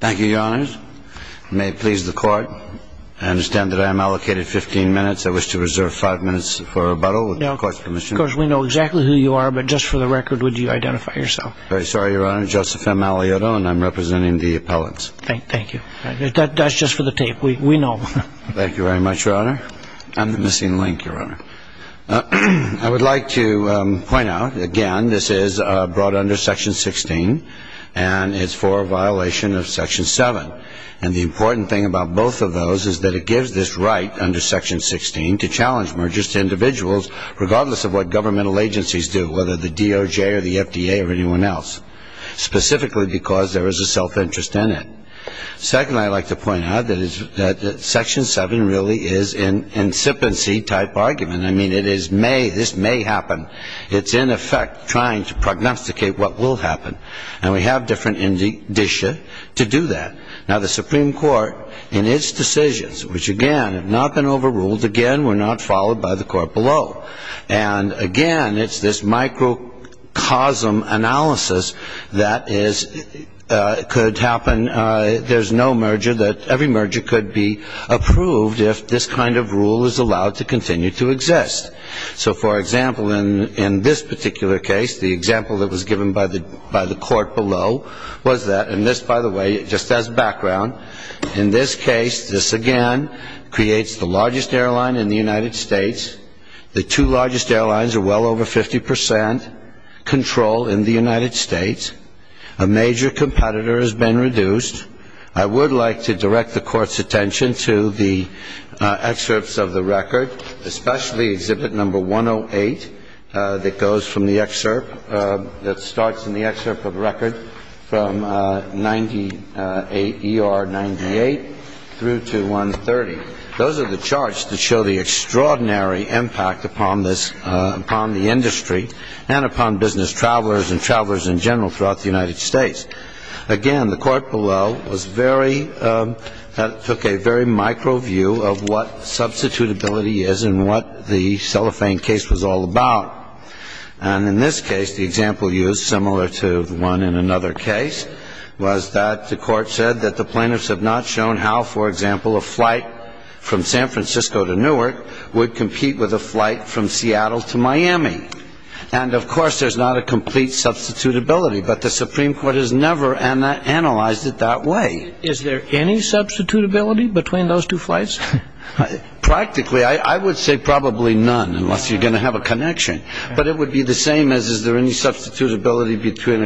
Thank you, Your Honor. May it please the Court, I understand that I am allocated 15 minutes. I wish to reserve 5 minutes for rebuttal, with the Court's permission. Of course, we know exactly who you are, but just for the record, would you identify yourself? I'm very sorry, Your Honor. Joseph M. Malioto, and I'm representing the appellants. Thank you. That's just for the tape. We know. Thank you very much, Your Honor. I'm the missing link, Your Honor. I would like to point out, again, this is brought under Section 16, and it's for a violation of Section 7. And the important thing about both of those is that it gives this right under Section 16 to challenge mergers to individuals, regardless of what governmental agencies do, whether the DOJ or the FDA or anyone else, specifically because there is a self-interest in it. Second, I'd like to point out that Section 7 really is an incipiency-type argument. I mean, it is may, this may happen. It's, in effect, trying to prognosticate what will happen. And we have different indicia to do that. Now, the Supreme Court, in its decisions, which, again, have not been overruled, again, were not followed by the Court below. And, again, it's this microcosm analysis that is, could happen. There's no merger, that every merger could be approved if this kind of rule is allowed to continue to exist. So, for example, in this particular case, the example that was given by the Court below was that, and this, by the way, just as background, in this case, this, again, creates the largest airline in the United States. The two largest airlines are well over 50 percent control in the United States. A major competitor has been reduced. I would like to direct the Court's attention to the excerpts of the record, especially Exhibit No. 108, that goes from the excerpt, that starts in the excerpt of the record, from 98 ER 98 through to 130. Those are the charts that show the extraordinary impact upon this, upon the industry and upon business travelers and travelers in general throughout the United States. Again, the Court below was very, took a very micro view of what substitutability is and what the cellophane case was all about. And in this case, the example used, similar to the one in another case, was that the Court said that the plaintiffs have not shown how, for example, a flight from San Francisco to Newark would compete with a flight from Seattle to Miami. And, of course, there's not a complete substitutability, but the Supreme Court has never analyzed it that way. Is there any substitutability between those two flights? Practically, I would say probably none, unless you're going to have a connection. But it would be the same as is there any substitutability between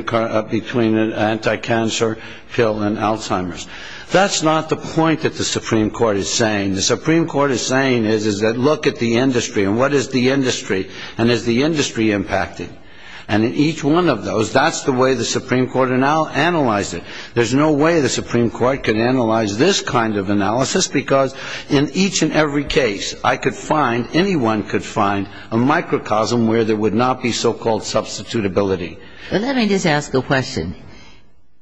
an anti-cancer pill and Alzheimer's. That's not the point that the Supreme Court is saying. The Supreme Court is saying is that look at the industry and what is the industry and is the industry impacted. And in each one of those, that's the way the Supreme Court analyzed it. There's no way the Supreme Court can analyze this kind of analysis because in each and every case, I could find, anyone could find, a microcosm where there would not be so-called substitutability. Let me just ask a question.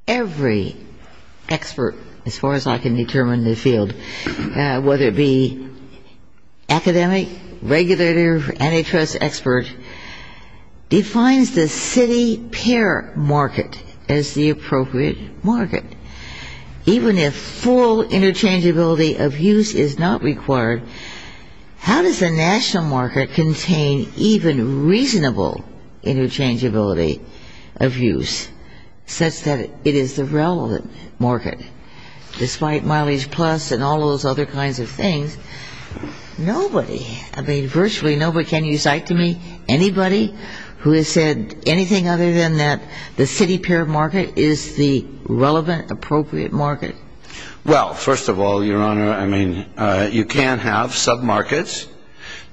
Every expert, as far as I can determine in the field, whether it be academic, regulator, antitrust expert, defines the city-pair market as the appropriate market. Even if full interchangeability of use is not required, how does the national market contain even reasonable interchangeability of use such that it is the relevant market? Despite mileage plus and all those other kinds of things, nobody, I mean, virtually nobody, can you cite to me anybody who has said anything other than that the city-pair market is the relevant, appropriate market? Well, first of all, Your Honor, I mean, you can have submarkets.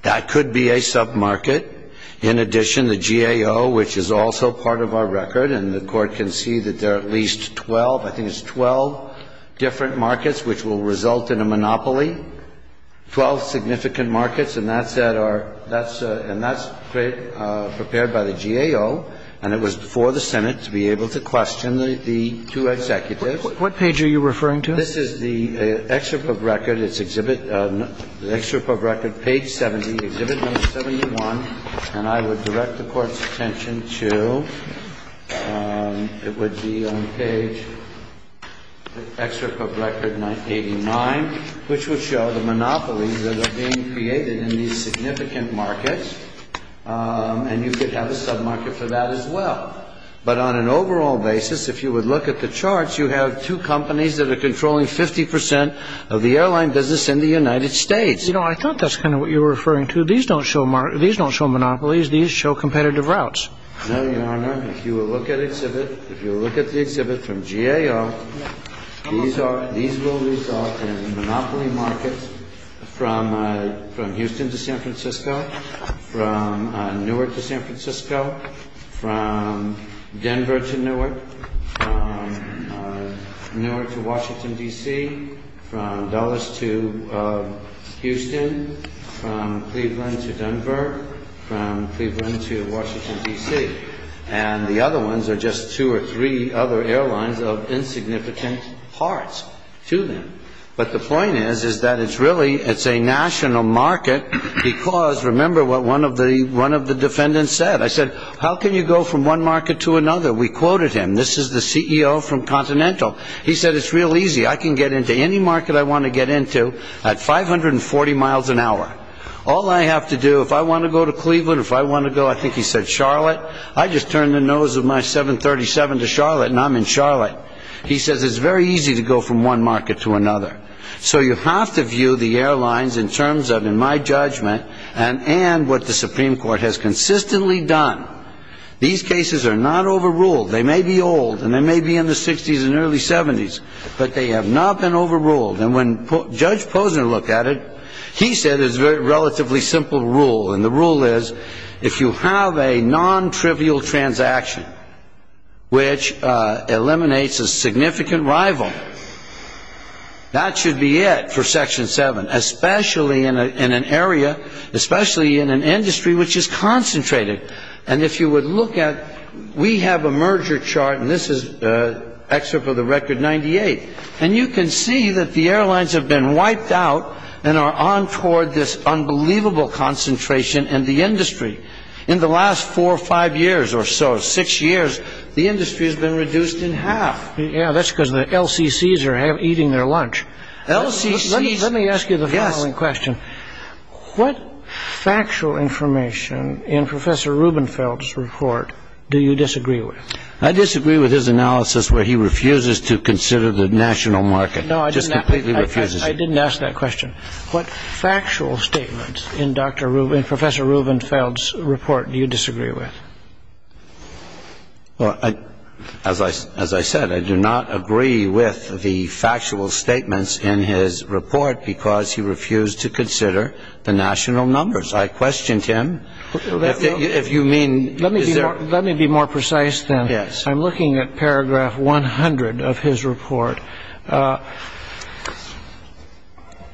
That could be a submarket. In addition, the GAO, which is also part of our record, and the Court can see that there are at least 12, I think it's 12 different markets which will result in a monopoly, 12 significant markets. And that's at our, that's, and that's prepared by the GAO. And it was before the Senate to be able to question the two executives. What page are you referring to? This is the excerpt of record. It's Exhibit, the excerpt of record, page 70, Exhibit No. 71. And I would direct the Court's attention to, it would be on page, Excerpt of Record No. 89, which would show the monopolies that are being created in these significant markets. And you could have a submarket for that as well. But on an overall basis, if you would look at the charts, you have two companies that are controlling 50 percent of the airline business in the United States. You know, I thought that's kind of what you were referring to. So these don't show monopolies. These show competitive routes. No, Your Honor. If you will look at Exhibit, if you will look at the Exhibit from GAO, these will result in monopoly markets from Houston to San Francisco, from Newark to San Francisco, from Denver to Newark, from Newark to Washington, D.C., from Dulles to Houston, from Cleveland to Denver, from Cleveland to Washington, D.C. And the other ones are just two or three other airlines of insignificant parts to them. But the point is, is that it's really, it's a national market because, remember what one of the defendants said. I said, how can you go from one market to another? We quoted him. This is the CEO from Continental. He said, it's real easy. I can get into any market I want to get into at 540 miles an hour. All I have to do, if I want to go to Cleveland, if I want to go, I think he said Charlotte. I just turned the nose of my 737 to Charlotte and I'm in Charlotte. He says it's very easy to go from one market to another. So you have to view the airlines in terms of, in my judgment, and what the Supreme Court has consistently done. These cases are not overruled. They may be old and they may be in the 60s and early 70s, but they have not been overruled. And when Judge Posner looked at it, he said it was a relatively simple rule. And the rule is, if you have a non-trivial transaction which eliminates a significant rival, that should be it for Section 7, especially in an area, especially in an industry which is concentrated. And if you would look at, we have a merger chart, and this is an excerpt of the Record 98, and you can see that the airlines have been wiped out and are on toward this unbelievable concentration in the industry. In the last four or five years or so, six years, the industry has been reduced in half. Yeah, that's because the LCCs are eating their lunch. Let me ask you the following question. What factual information in Professor Rubenfeld's report do you disagree with? I disagree with his analysis where he refuses to consider the national market, just completely refuses it. I didn't ask that question. What factual statements in Professor Rubenfeld's report do you disagree with? Well, as I said, I do not agree with the factual statements in his report because he refused to consider the national numbers. I questioned him. If you mean, is there? Let me be more precise, then. Yes. I'm looking at paragraph 100 of his report.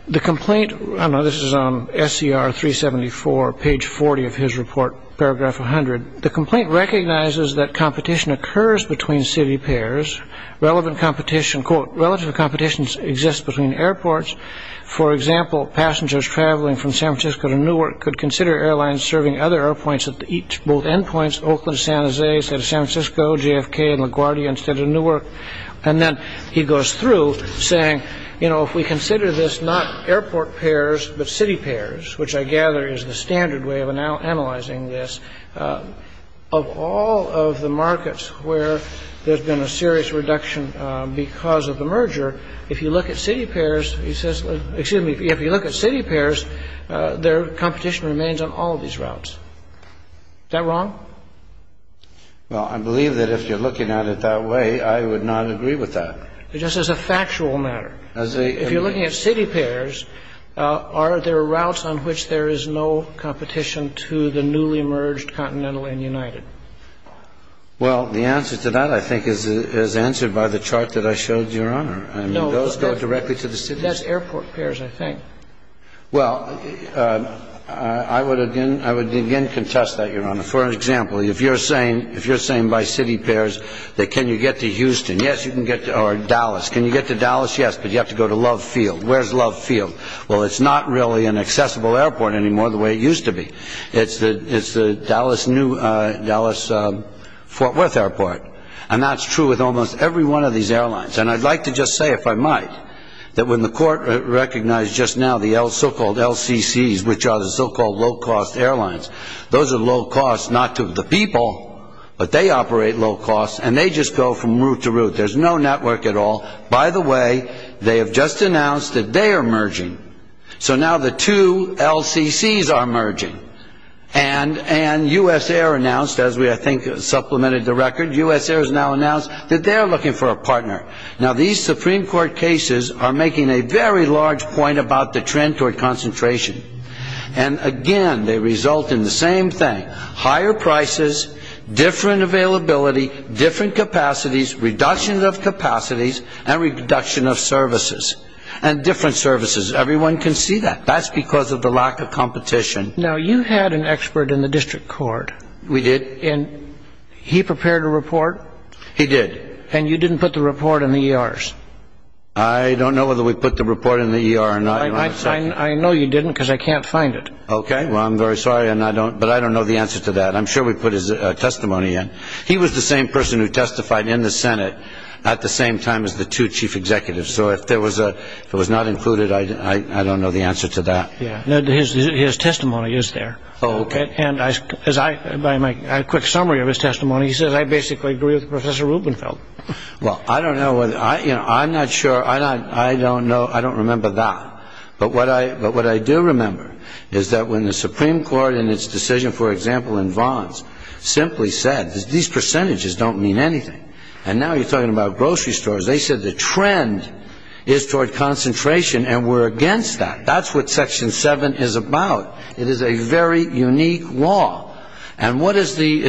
The complaint, I don't know, this is on SCR 374, page 40 of his report, paragraph 100. The complaint recognizes that competition occurs between city pairs. Relevant competition, quote, relative competition exists between airports. For example, passengers traveling from San Francisco to Newark could consider airlines serving other airpoints at both endpoints, Oakland, San Jose instead of San Francisco, JFK and LaGuardia instead of Newark. And then he goes through, saying, you know, if we consider this not airport pairs but city pairs, which I gather is the standard way of analyzing this, of all of the markets where there's been a serious reduction because of the merger, if you look at city pairs, he says, excuse me, if you look at city pairs, their competition remains on all of these routes. Is that wrong? Well, I believe that if you're looking at it that way, I would not agree with that. Just as a factual matter, if you're looking at city pairs, are there routes on which there is no competition to the newly merged Continental and United? Well, the answer to that, I think, is answered by the chart that I showed, Your Honor. No. Those go directly to the city. That's airport pairs, I think. Well, I would again contest that, Your Honor. For example, if you're saying by city pairs that can you get to Houston? Yes, you can get to Dallas. Can you get to Dallas? Yes. But you have to go to Love Field. Where's Love Field? Well, it's not really an accessible airport anymore the way it used to be. It's the Dallas Fort Worth Airport. And that's true with almost every one of these airlines. And I'd like to just say, if I might, that when the court recognized just now the so-called LCCs, which are the so-called low-cost airlines, those are low-cost not to the people, but they operate low-cost and they just go from route to route. There's no network at all. By the way, they have just announced that they are merging. So now the two LCCs are merging. And USAir announced, as we, I think, supplemented the record, USAir has now announced that they are looking for a partner. Now, these Supreme Court cases are making a very large point about the trend toward concentration. And, again, they result in the same thing, higher prices, different availability, different capacities, reduction of capacities, and reduction of services, and different services. Everyone can see that. That's because of the lack of competition. Now, you had an expert in the district court. We did. And he prepared a report. He did. And you didn't put the report in the ERs. I don't know whether we put the report in the ER or not. I know you didn't because I can't find it. Okay. Well, I'm very sorry, but I don't know the answer to that. I'm sure we put his testimony in. He was the same person who testified in the Senate at the same time as the two chief executives. So if it was not included, I don't know the answer to that. His testimony is there. Oh, okay. By my quick summary of his testimony, he says, I basically agree with Professor Rubenfeld. Well, I don't know. I'm not sure. I don't know. I don't remember that. But what I do remember is that when the Supreme Court in its decision, for example, in Vons, simply said, these percentages don't mean anything. And now you're talking about grocery stores. They said the trend is toward concentration, and we're against that. That's what Section 7 is about. It is a very unique law. And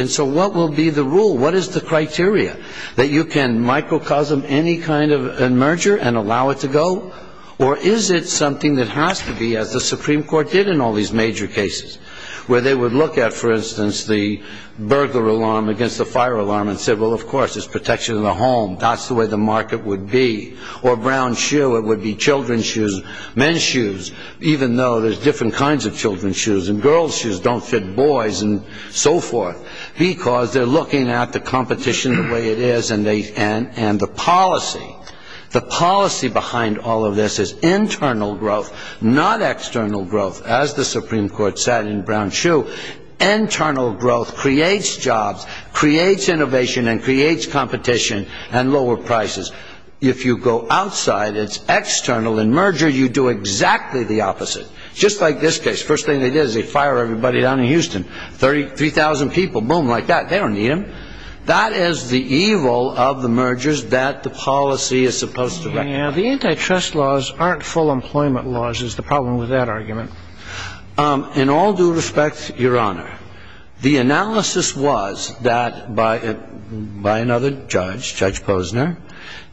so what will be the rule? What is the criteria? That you can microcosm any kind of merger and allow it to go? Or is it something that has to be, as the Supreme Court did in all these major cases, where they would look at, for instance, the burglar alarm against the fire alarm and said, well, of course, it's protection of the home. That's the way the market would be. Or Brown Shoe, it would be children's shoes, men's shoes, even though there's different kinds of children's shoes. And girls' shoes don't fit boys and so forth, because they're looking at the competition the way it is and the policy. The policy behind all of this is internal growth, not external growth, as the Supreme Court said in Brown Shoe. Internal growth creates jobs, creates innovation, and creates competition and lower prices. If you go outside, it's external. In merger, you do exactly the opposite, just like this case. First thing they did is they fire everybody down in Houston, 3,000 people. Boom, like that. They don't need them. That is the evil of the mergers that the policy is supposed to wreck. Now, the antitrust laws aren't full employment laws is the problem with that argument. In all due respect, Your Honor, the analysis was that by another judge, Judge Posner,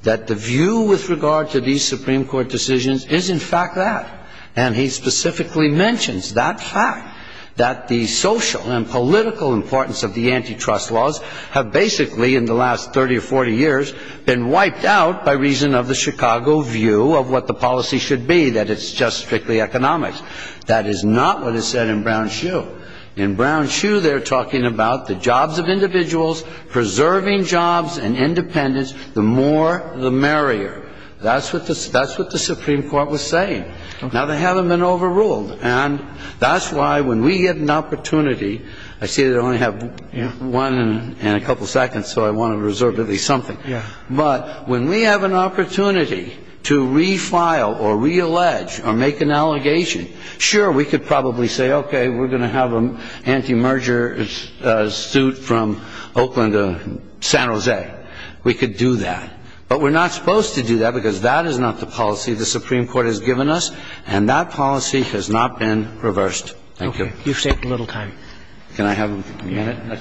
that the view with regard to these Supreme Court decisions is in fact that. And he specifically mentions that fact, that the social and political importance of the antitrust laws have basically in the last 30 or 40 years been wiped out by reason of the Chicago view of what the policy should be, that it's just strictly economics. That is not what is said in Brown Shoe. In Brown Shoe, they're talking about the jobs of individuals, preserving jobs and independence, the more the merrier. That's what the Supreme Court was saying. Now, they haven't been overruled. And that's why when we get an opportunity, I see they only have one and a couple seconds, so I want to reserve at least something. But when we have an opportunity to refile or reallege or make an allegation, sure, we could probably say, okay, we're going to have an anti-merger suit from Oakland to San Jose. We could do that. But we're not supposed to do that because that is not the policy the Supreme Court has given us, and that policy has not been reversed. Thank you. Okay. You've saved a little time. Can I have a minute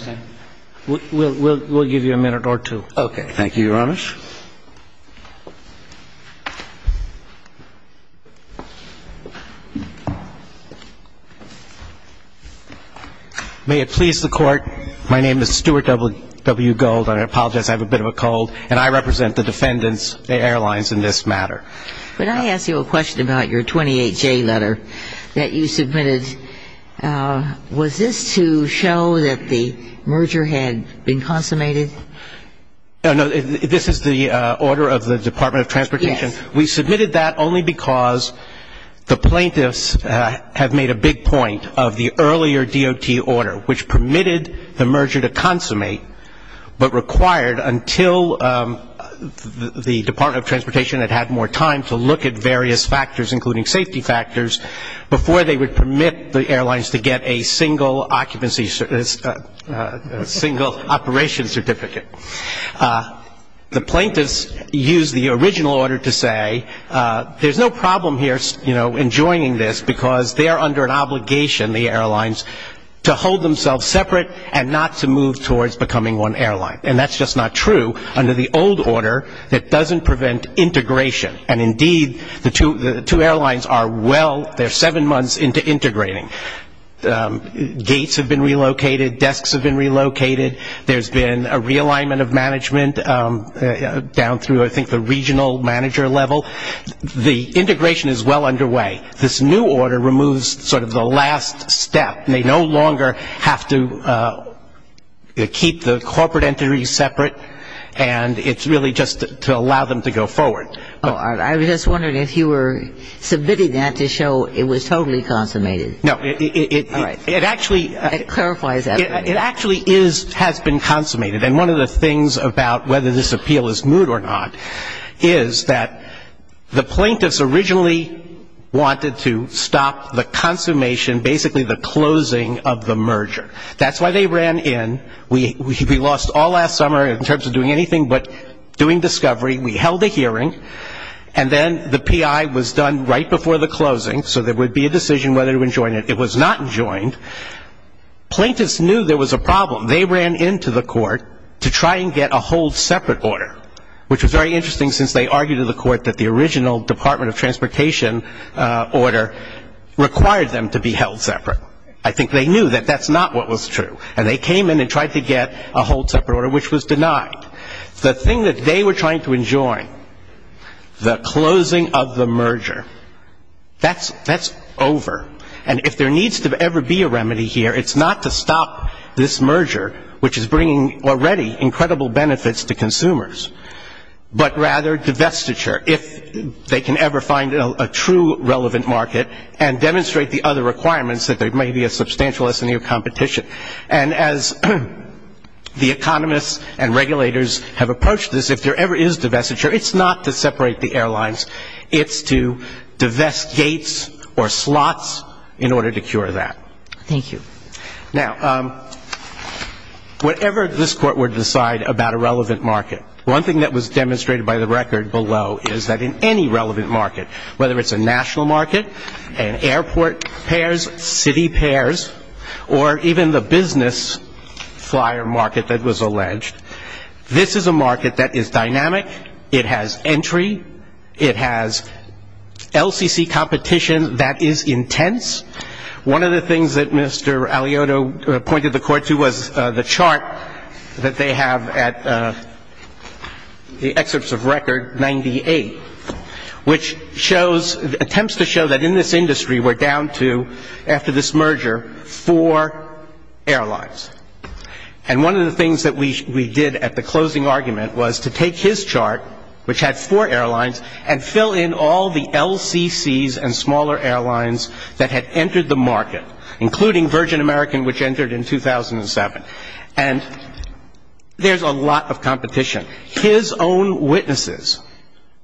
or two? We'll give you a minute or two. Okay. Thank you, Your Honor. Mr. Walsh? May it please the Court, my name is Stuart W. Gold. I apologize, I have a bit of a cold. And I represent the defendants, the airlines, in this matter. Could I ask you a question about your 28J letter that you submitted? Was this to show that the merger had been consummated? No. This is the order of the Department of Transportation? Yes. We submitted that only because the plaintiffs have made a big point of the earlier DOT order, which permitted the merger to consummate but required until the Department of Transportation had had more time to look at various factors, including safety factors, before they would permit the airlines to get a single operation certificate. The plaintiffs used the original order to say there's no problem here in joining this because they are under an obligation, the airlines, to hold themselves separate and not to move towards becoming one airline. And that's just not true under the old order that doesn't prevent integration. And indeed, the two airlines are well, they're seven months into integrating. Gates have been relocated, desks have been relocated. There's been a realignment of management down through, I think, the regional manager level. The integration is well underway. This new order removes sort of the last step. They no longer have to keep the corporate entities separate, and it's really just to allow them to go forward. I was just wondering if you were submitting that to show it was totally consummated. No. All right. It actually has been consummated. And one of the things about whether this appeal is moot or not is that the plaintiffs originally wanted to stop the consummation, basically the closing of the merger. That's why they ran in. We lost all last summer in terms of doing anything but doing discovery. We held a hearing, and then the PI was done right before the closing, so there would be a decision whether to rejoin it. It was not joined. Plaintiffs knew there was a problem. They ran into the court to try and get a whole separate order, which was very interesting since they argued to the court that the original Department of Transportation order required them to be held separate. I think they knew that that's not what was true, and they came in and tried to get a whole separate order, which was denied. The thing that they were trying to enjoin, the closing of the merger, that's over. And if there needs to ever be a remedy here, it's not to stop this merger, which is bringing already incredible benefits to consumers, but rather divestiture, if they can ever find a true relevant market and demonstrate the other requirements that there may be a substantial S&E of competition. And as the economists and regulators have approached this, if there ever is divestiture, it's not to separate the airlines. It's to divest gates or slots in order to cure that. Thank you. Now, whatever this Court would decide about a relevant market, one thing that was demonstrated by the record below is that in any relevant market, whether it's a national market, an airport pairs, city pairs, or even the business flyer market that was alleged, this is a market that is dynamic. It has entry. It has LCC competition that is intense. One of the things that Mr. Aliotto pointed the Court to was the chart that they have at the excerpts of record 98, which shows attempts to show that in this industry we're down to, after this merger, four airlines. And one of the things that we did at the closing argument was to take his chart, which had four airlines, and fill in all the LCCs and smaller airlines that had entered the market, including Virgin American, which entered in 2007. And there's a lot of competition. His own witnesses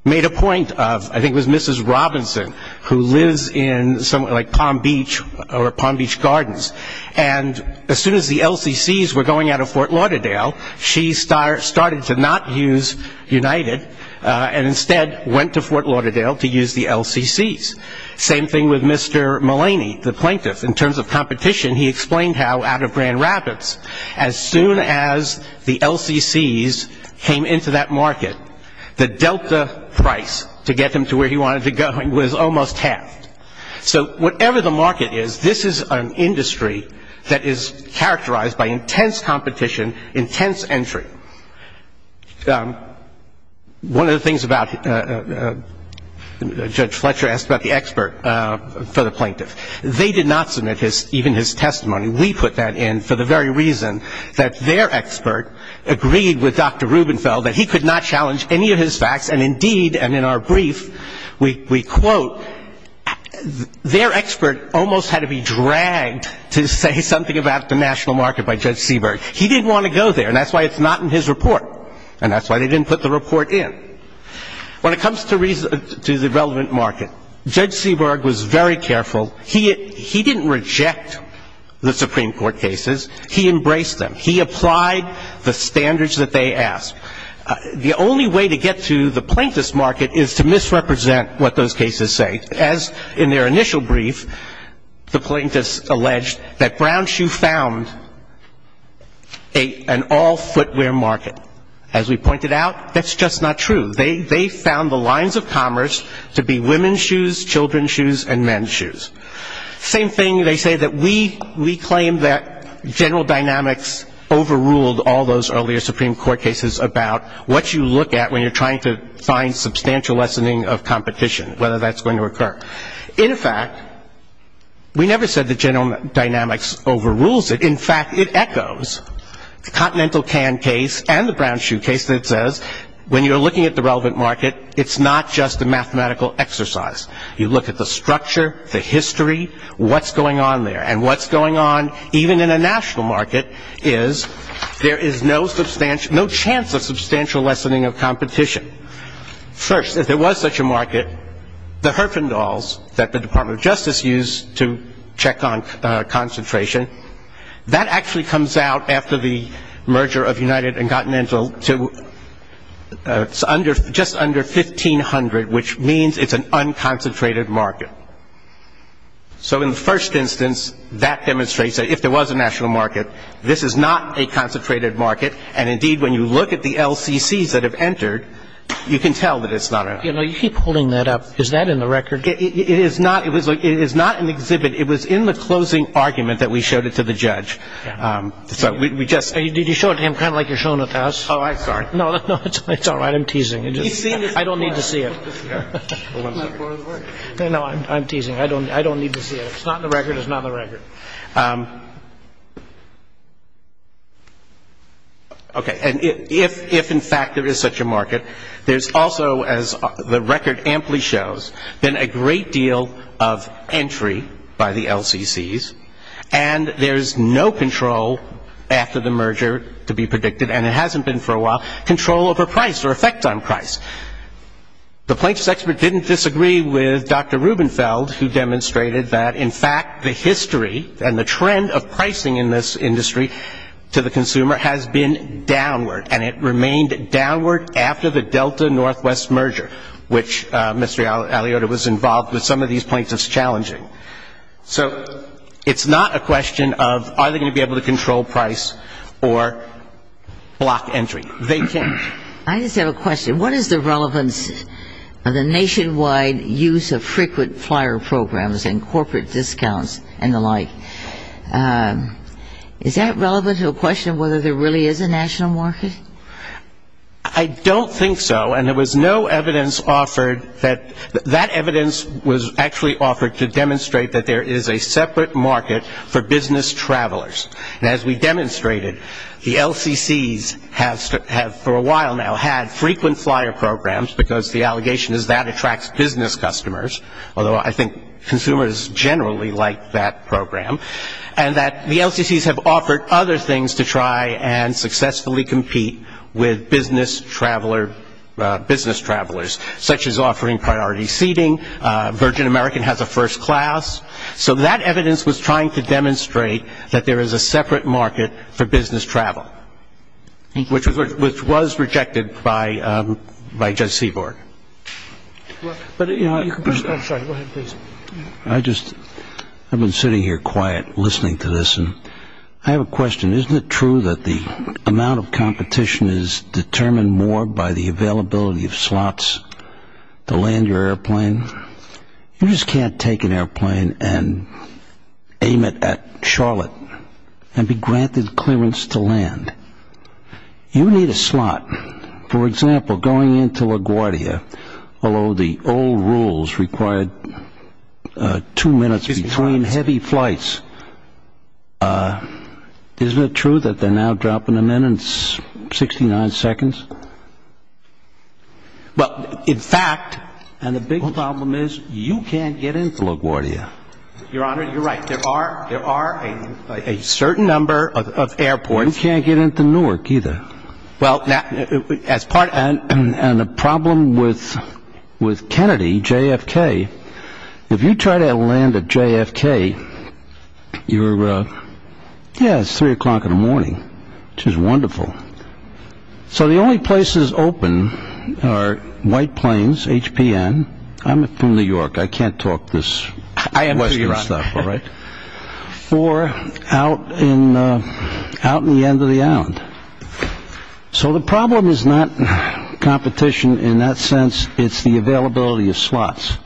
made a point of, I think it was Mrs. Robinson, who lives in somewhere like Palm Beach, or Palm Beach Gardens, and as soon as the LCCs were going out of Fort Lauderdale, she started to not use United and instead went to Fort Lauderdale to use the LCCs. Same thing with Mr. Mullaney, the plaintiff. In terms of competition, he explained how out of Grand Rapids, as soon as the LCCs came into that market, the Delta price to get him to where he wanted to go was almost halved. So whatever the market is, this is an industry that is characterized by intense competition, intense entry. One of the things Judge Fletcher asked about the expert for the plaintiff, they did not submit even his testimony. We put that in for the very reason that their expert agreed with Dr. Rubenfeld that he could not challenge any of his facts, and indeed, and in our brief, we quote, their expert almost had to be dragged to say something about the national market by Judge Seaberg. He didn't want to go there, and that's why it's not in his report, and that's why they didn't put the report in. When it comes to the relevant market, Judge Seaberg was very careful. He didn't reject the Supreme Court cases. He embraced them. He applied the standards that they asked. The only way to get to the plaintiff's market is to misrepresent what those cases say. As in their initial brief, the plaintiffs alleged that Brown Shoe found an all-footwear market. As we pointed out, that's just not true. They found the lines of commerce to be women's shoes, children's shoes, and men's shoes. Same thing, they say that we claim that general dynamics overruled all those earlier Supreme Court cases about what you look at when you're trying to find substantial lessening of competition, whether that's going to occur. In fact, we never said that general dynamics overrules it. In fact, it echoes the Continental Can case and the Brown Shoe case that says when you're looking at the relevant market, it's not just a mathematical exercise. You look at the structure, the history, what's going on there, and what's going on even in a national market is there is no chance of substantial lessening of competition. First, if there was such a market, the Herfindahls that the Department of Justice used to check on concentration, that actually comes out after the merger of United and Continental to just under $1,500, which means it's an unconcentrated market. So in the first instance, that demonstrates that if there was a national market, this is not a concentrated market. And indeed, when you look at the LCCs that have entered, you can tell that it's not an LCC. You keep holding that up. Is that in the record? It is not. It is not in the exhibit. It was in the closing argument that we showed it to the judge. Did you show it to him kind of like you're showing it to us? Oh, I'm sorry. No, it's all right. I'm teasing. I don't need to see it. No, I'm teasing. I don't need to see it. It's not in the record. It's not in the record. Okay, and if in fact there is such a market, there's also, as the record amply shows, been a great deal of entry by the LCCs, and there's no control after the merger to be predicted, and it hasn't been for a while, control over price or effect on price. The plaintiffs' expert didn't disagree with Dr. Rubenfeld, who demonstrated that, in fact, the history and the trend of pricing in this industry to the consumer has been downward, and it remained downward after the Delta-Northwest merger, which Mr. Aliota was involved with some of these plaintiffs challenging. So it's not a question of are they going to be able to control price or block entry. They can't. I just have a question. What is the relevance of the nationwide use of frequent flyer programs and corporate discounts and the like? Is that relevant to a question of whether there really is a national market? I don't think so, and there was no evidence offered that that evidence was actually offered to demonstrate that there is a separate market for business travelers. And as we demonstrated, the LCCs have, for a while now, had frequent flyer programs because the allegation is that attracts business customers, although I think consumers generally like that program, and that the LCCs have offered other things to try and successfully compete with business travelers, such as offering priority seating. Virgin American has a first class. So that evidence was trying to demonstrate that there is a separate market for business travel, which was rejected by Judge Seaborg. I'm sorry. Go ahead, please. I've been sitting here quiet listening to this, and I have a question. Isn't it true that the amount of competition is determined more by the availability of slots to land your airplane? You just can't take an airplane and aim it at Charlotte and be granted clearance to land. You need a slot. For example, going into LaGuardia, although the old rules required two minutes between heavy flights, isn't it true that they're now dropping them in at 69 seconds? Well, in fact, and the big problem is you can't get into LaGuardia. Your Honor, you're right. There are a certain number of airports. You can't get into Newark either. And the problem with Kennedy, JFK, if you try to land at JFK, you're, yeah, it's 3 o'clock in the morning, which is wonderful. So the only places open are White Plains, HPN. I'm from New York. I can't talk this Western stuff. Or out in the end of the island. So the problem is not competition in that sense. It's the availability of slots.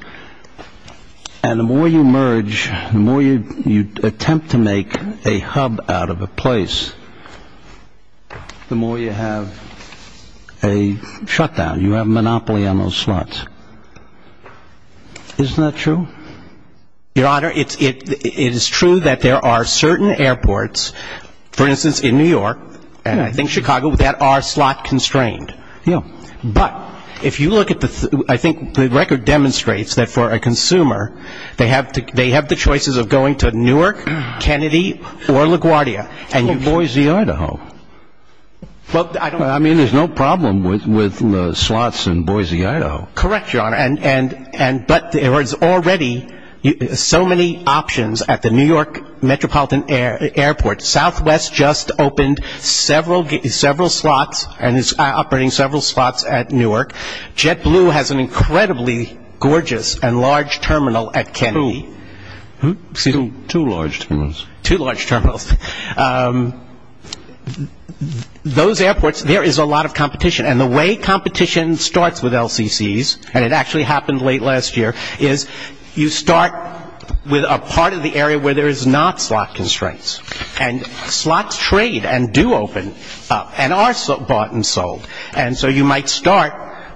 And the more you merge, the more you attempt to make a hub out of a place, the more you have a shutdown. You have a monopoly on those slots. Isn't that true? Your Honor, it is true that there are certain airports, for instance, in New York and I think Chicago, that are slot constrained. Yeah. But if you look at the, I think the record demonstrates that for a consumer, they have the choices of going to Newark, Kennedy, or LaGuardia. Or Boise, Idaho. Well, I don't know. I mean, there's no problem with slots in Boise, Idaho. Correct, Your Honor. But there is already so many options at the New York Metropolitan Airport. Southwest just opened several slots and is operating several slots at Newark. JetBlue has an incredibly gorgeous and large terminal at Kennedy. Two large terminals. Two large terminals. Those airports, there is a lot of competition. And the way competition starts with LCCs, and it actually happened late last year, is you start with a part of the area where there is not slot constraints. And slots trade and do open up and are bought and sold. And so you might start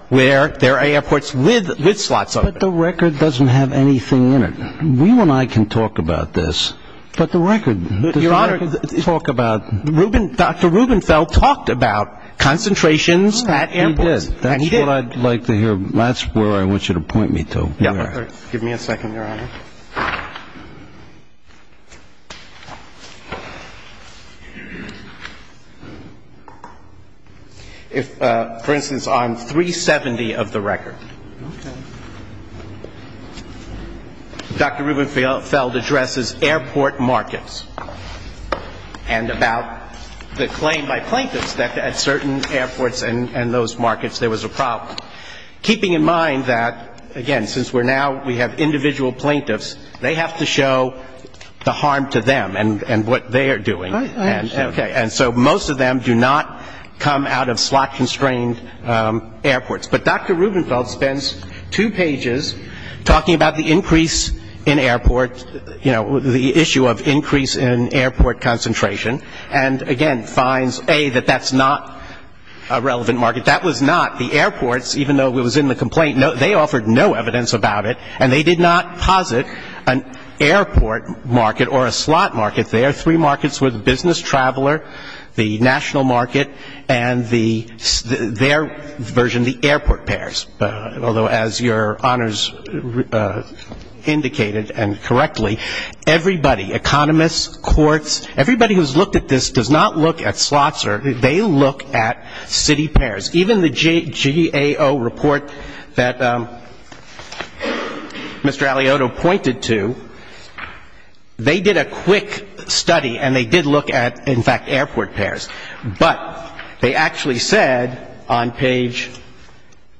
where there are airports with slots open. But the record doesn't have anything in it. You and I can talk about this, but the record doesn't talk about it. Dr. Rubenfeld talked about concentrations at airports. He did. That's what I'd like to hear. That's where I want you to point me to. Give me a second, Your Honor. For instance, on 370 of the record, Dr. Rubenfeld addresses airport markets. And about the claim by plaintiffs that at certain airports and those markets there was a problem. Keeping in mind that, again, since we're now we have individual plaintiffs, they have to show the harm to them and what they are doing. Right. Okay. And so most of them do not come out of slot-constrained airports. But Dr. Rubenfeld spends two pages talking about the increase in airports, you know, the issue of increase in airport concentration, and, again, finds, A, that that's not a relevant market. That was not. The airports, even though it was in the complaint, they offered no evidence about it, and they did not posit an airport market or a slot market there. Three markets were the business traveler, the national market, and their version, the airport pairs. Although, as Your Honors indicated and correctly, everybody, economists, courts, everybody who's looked at this does not look at slots or they look at city pairs. Even the GAO report that Mr. Aliotto pointed to, they did a quick study, and they did look at, in fact, airport pairs. But they actually said on page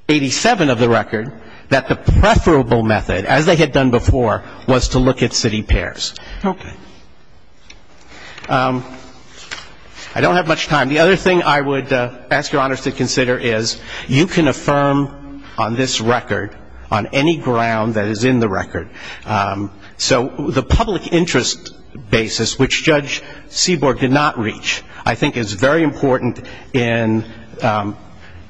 87 of the record that the preferable method, as they had done before, was to look at city pairs. Okay. I don't have much time. The other thing I would ask Your Honors to consider is you can affirm on this record on any ground that is in the record. So the public interest basis, which Judge Seaborg did not reach, I think is very important in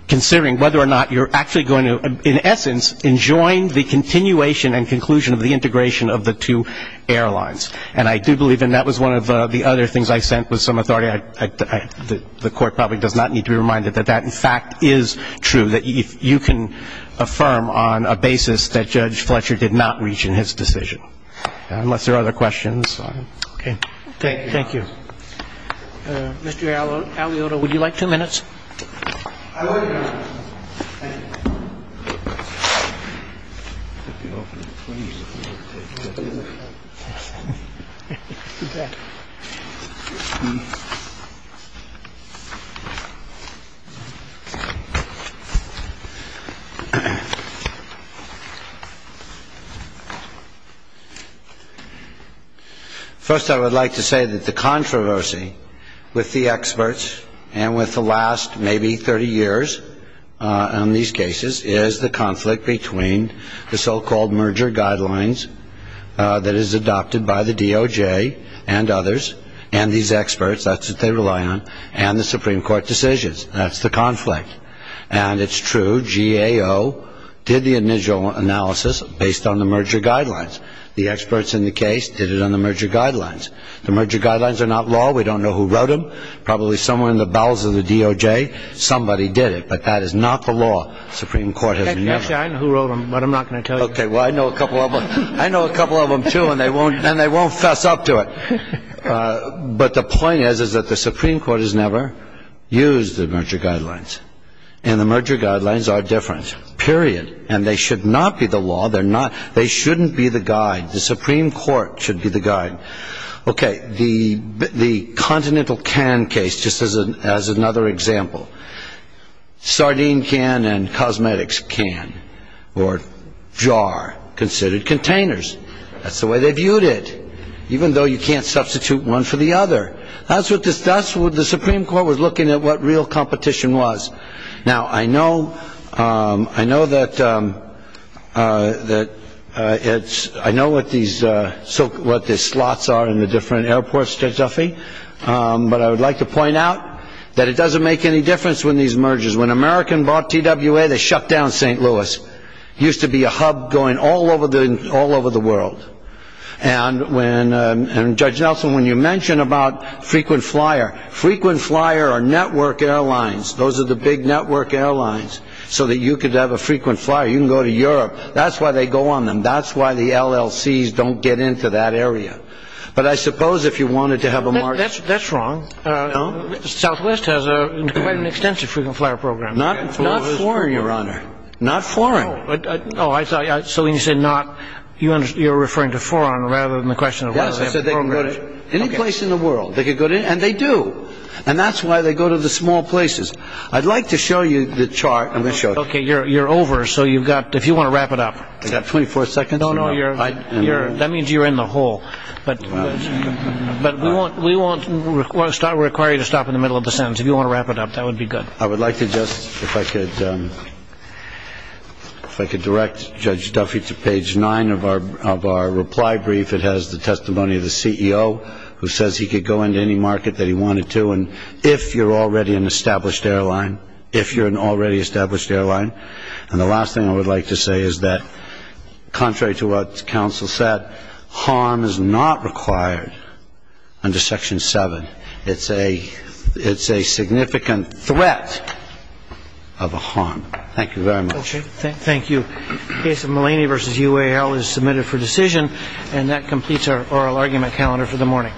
considering whether or not you're actually going to, in essence, enjoin the continuation and conclusion of the integration of the two airlines. And I do believe, and that was one of the other things I sent with some authority, the court probably does not need to be reminded that that, in fact, is true, that you can affirm on a basis that Judge Fletcher did not reach in his decision. Unless there are other questions. Okay. Thank you. Mr. Aliota, would you like two minutes? I would, Your Honors. Thank you. First, I would like to say that the controversy with the experts and with the last maybe 30 years on these cases is the controversy with the experts. the so-called merger guidelines that is adopted by the DOJ and others and these experts, that's what they rely on, and the Supreme Court decisions. That's the conflict. And it's true, GAO did the initial analysis based on the merger guidelines. The experts in the case did it on the merger guidelines. The merger guidelines are not law. We don't know who wrote them. Probably someone in the bowels of the DOJ, somebody did it. But that is not the law. The Supreme Court has never. Yes, I know who wrote them, but I'm not going to tell you. Okay. Well, I know a couple of them, too, and they won't fess up to it. But the point is that the Supreme Court has never used the merger guidelines. And the merger guidelines are different, period. And they should not be the law. They shouldn't be the guide. The Supreme Court should be the guide. Okay, the continental can case, just as another example. Sardine can and cosmetics can, or jar, considered containers. That's the way they viewed it, even though you can't substitute one for the other. That's what the Supreme Court was looking at, what real competition was. Now, I know what the slots are in the different airports, Judge Duffy. But I would like to point out that it doesn't make any difference when these mergers. When America bought TWA, they shut down St. Louis. It used to be a hub going all over the world. And, Judge Nelson, when you mention about frequent flyer, frequent flyer are network airlines. Those are the big network airlines so that you could have a frequent flyer. You can go to Europe. That's why they go on them. That's why the LLCs don't get into that area. But I suppose if you wanted to have a merger. That's wrong. Southwest has quite an extensive frequent flyer program. Not foreign, Your Honor. Not foreign. Oh, I thought you were referring to foreign rather than the question of whether they have programs. Yes, I said they could go to any place in the world. They could go to, and they do. And that's why they go to the small places. I'd like to show you the chart. I'm going to show it. Okay, you're over so you've got, if you want to wrap it up. I've got 24 seconds. No, no, that means you're in the hole. But we won't require you to stop in the middle of the sentence. If you want to wrap it up, that would be good. I would like to just, if I could, if I could direct Judge Duffy to page 9 of our reply brief. If it has the testimony of the CEO who says he could go into any market that he wanted to. And if you're already an established airline, if you're an already established airline. And the last thing I would like to say is that contrary to what counsel said, harm is not required under Section 7. It's a significant threat of a harm. Thank you very much. Okay, thank you. The case of Mulaney v. UAL is submitted for decision. And that completes our oral argument calendar for the morning.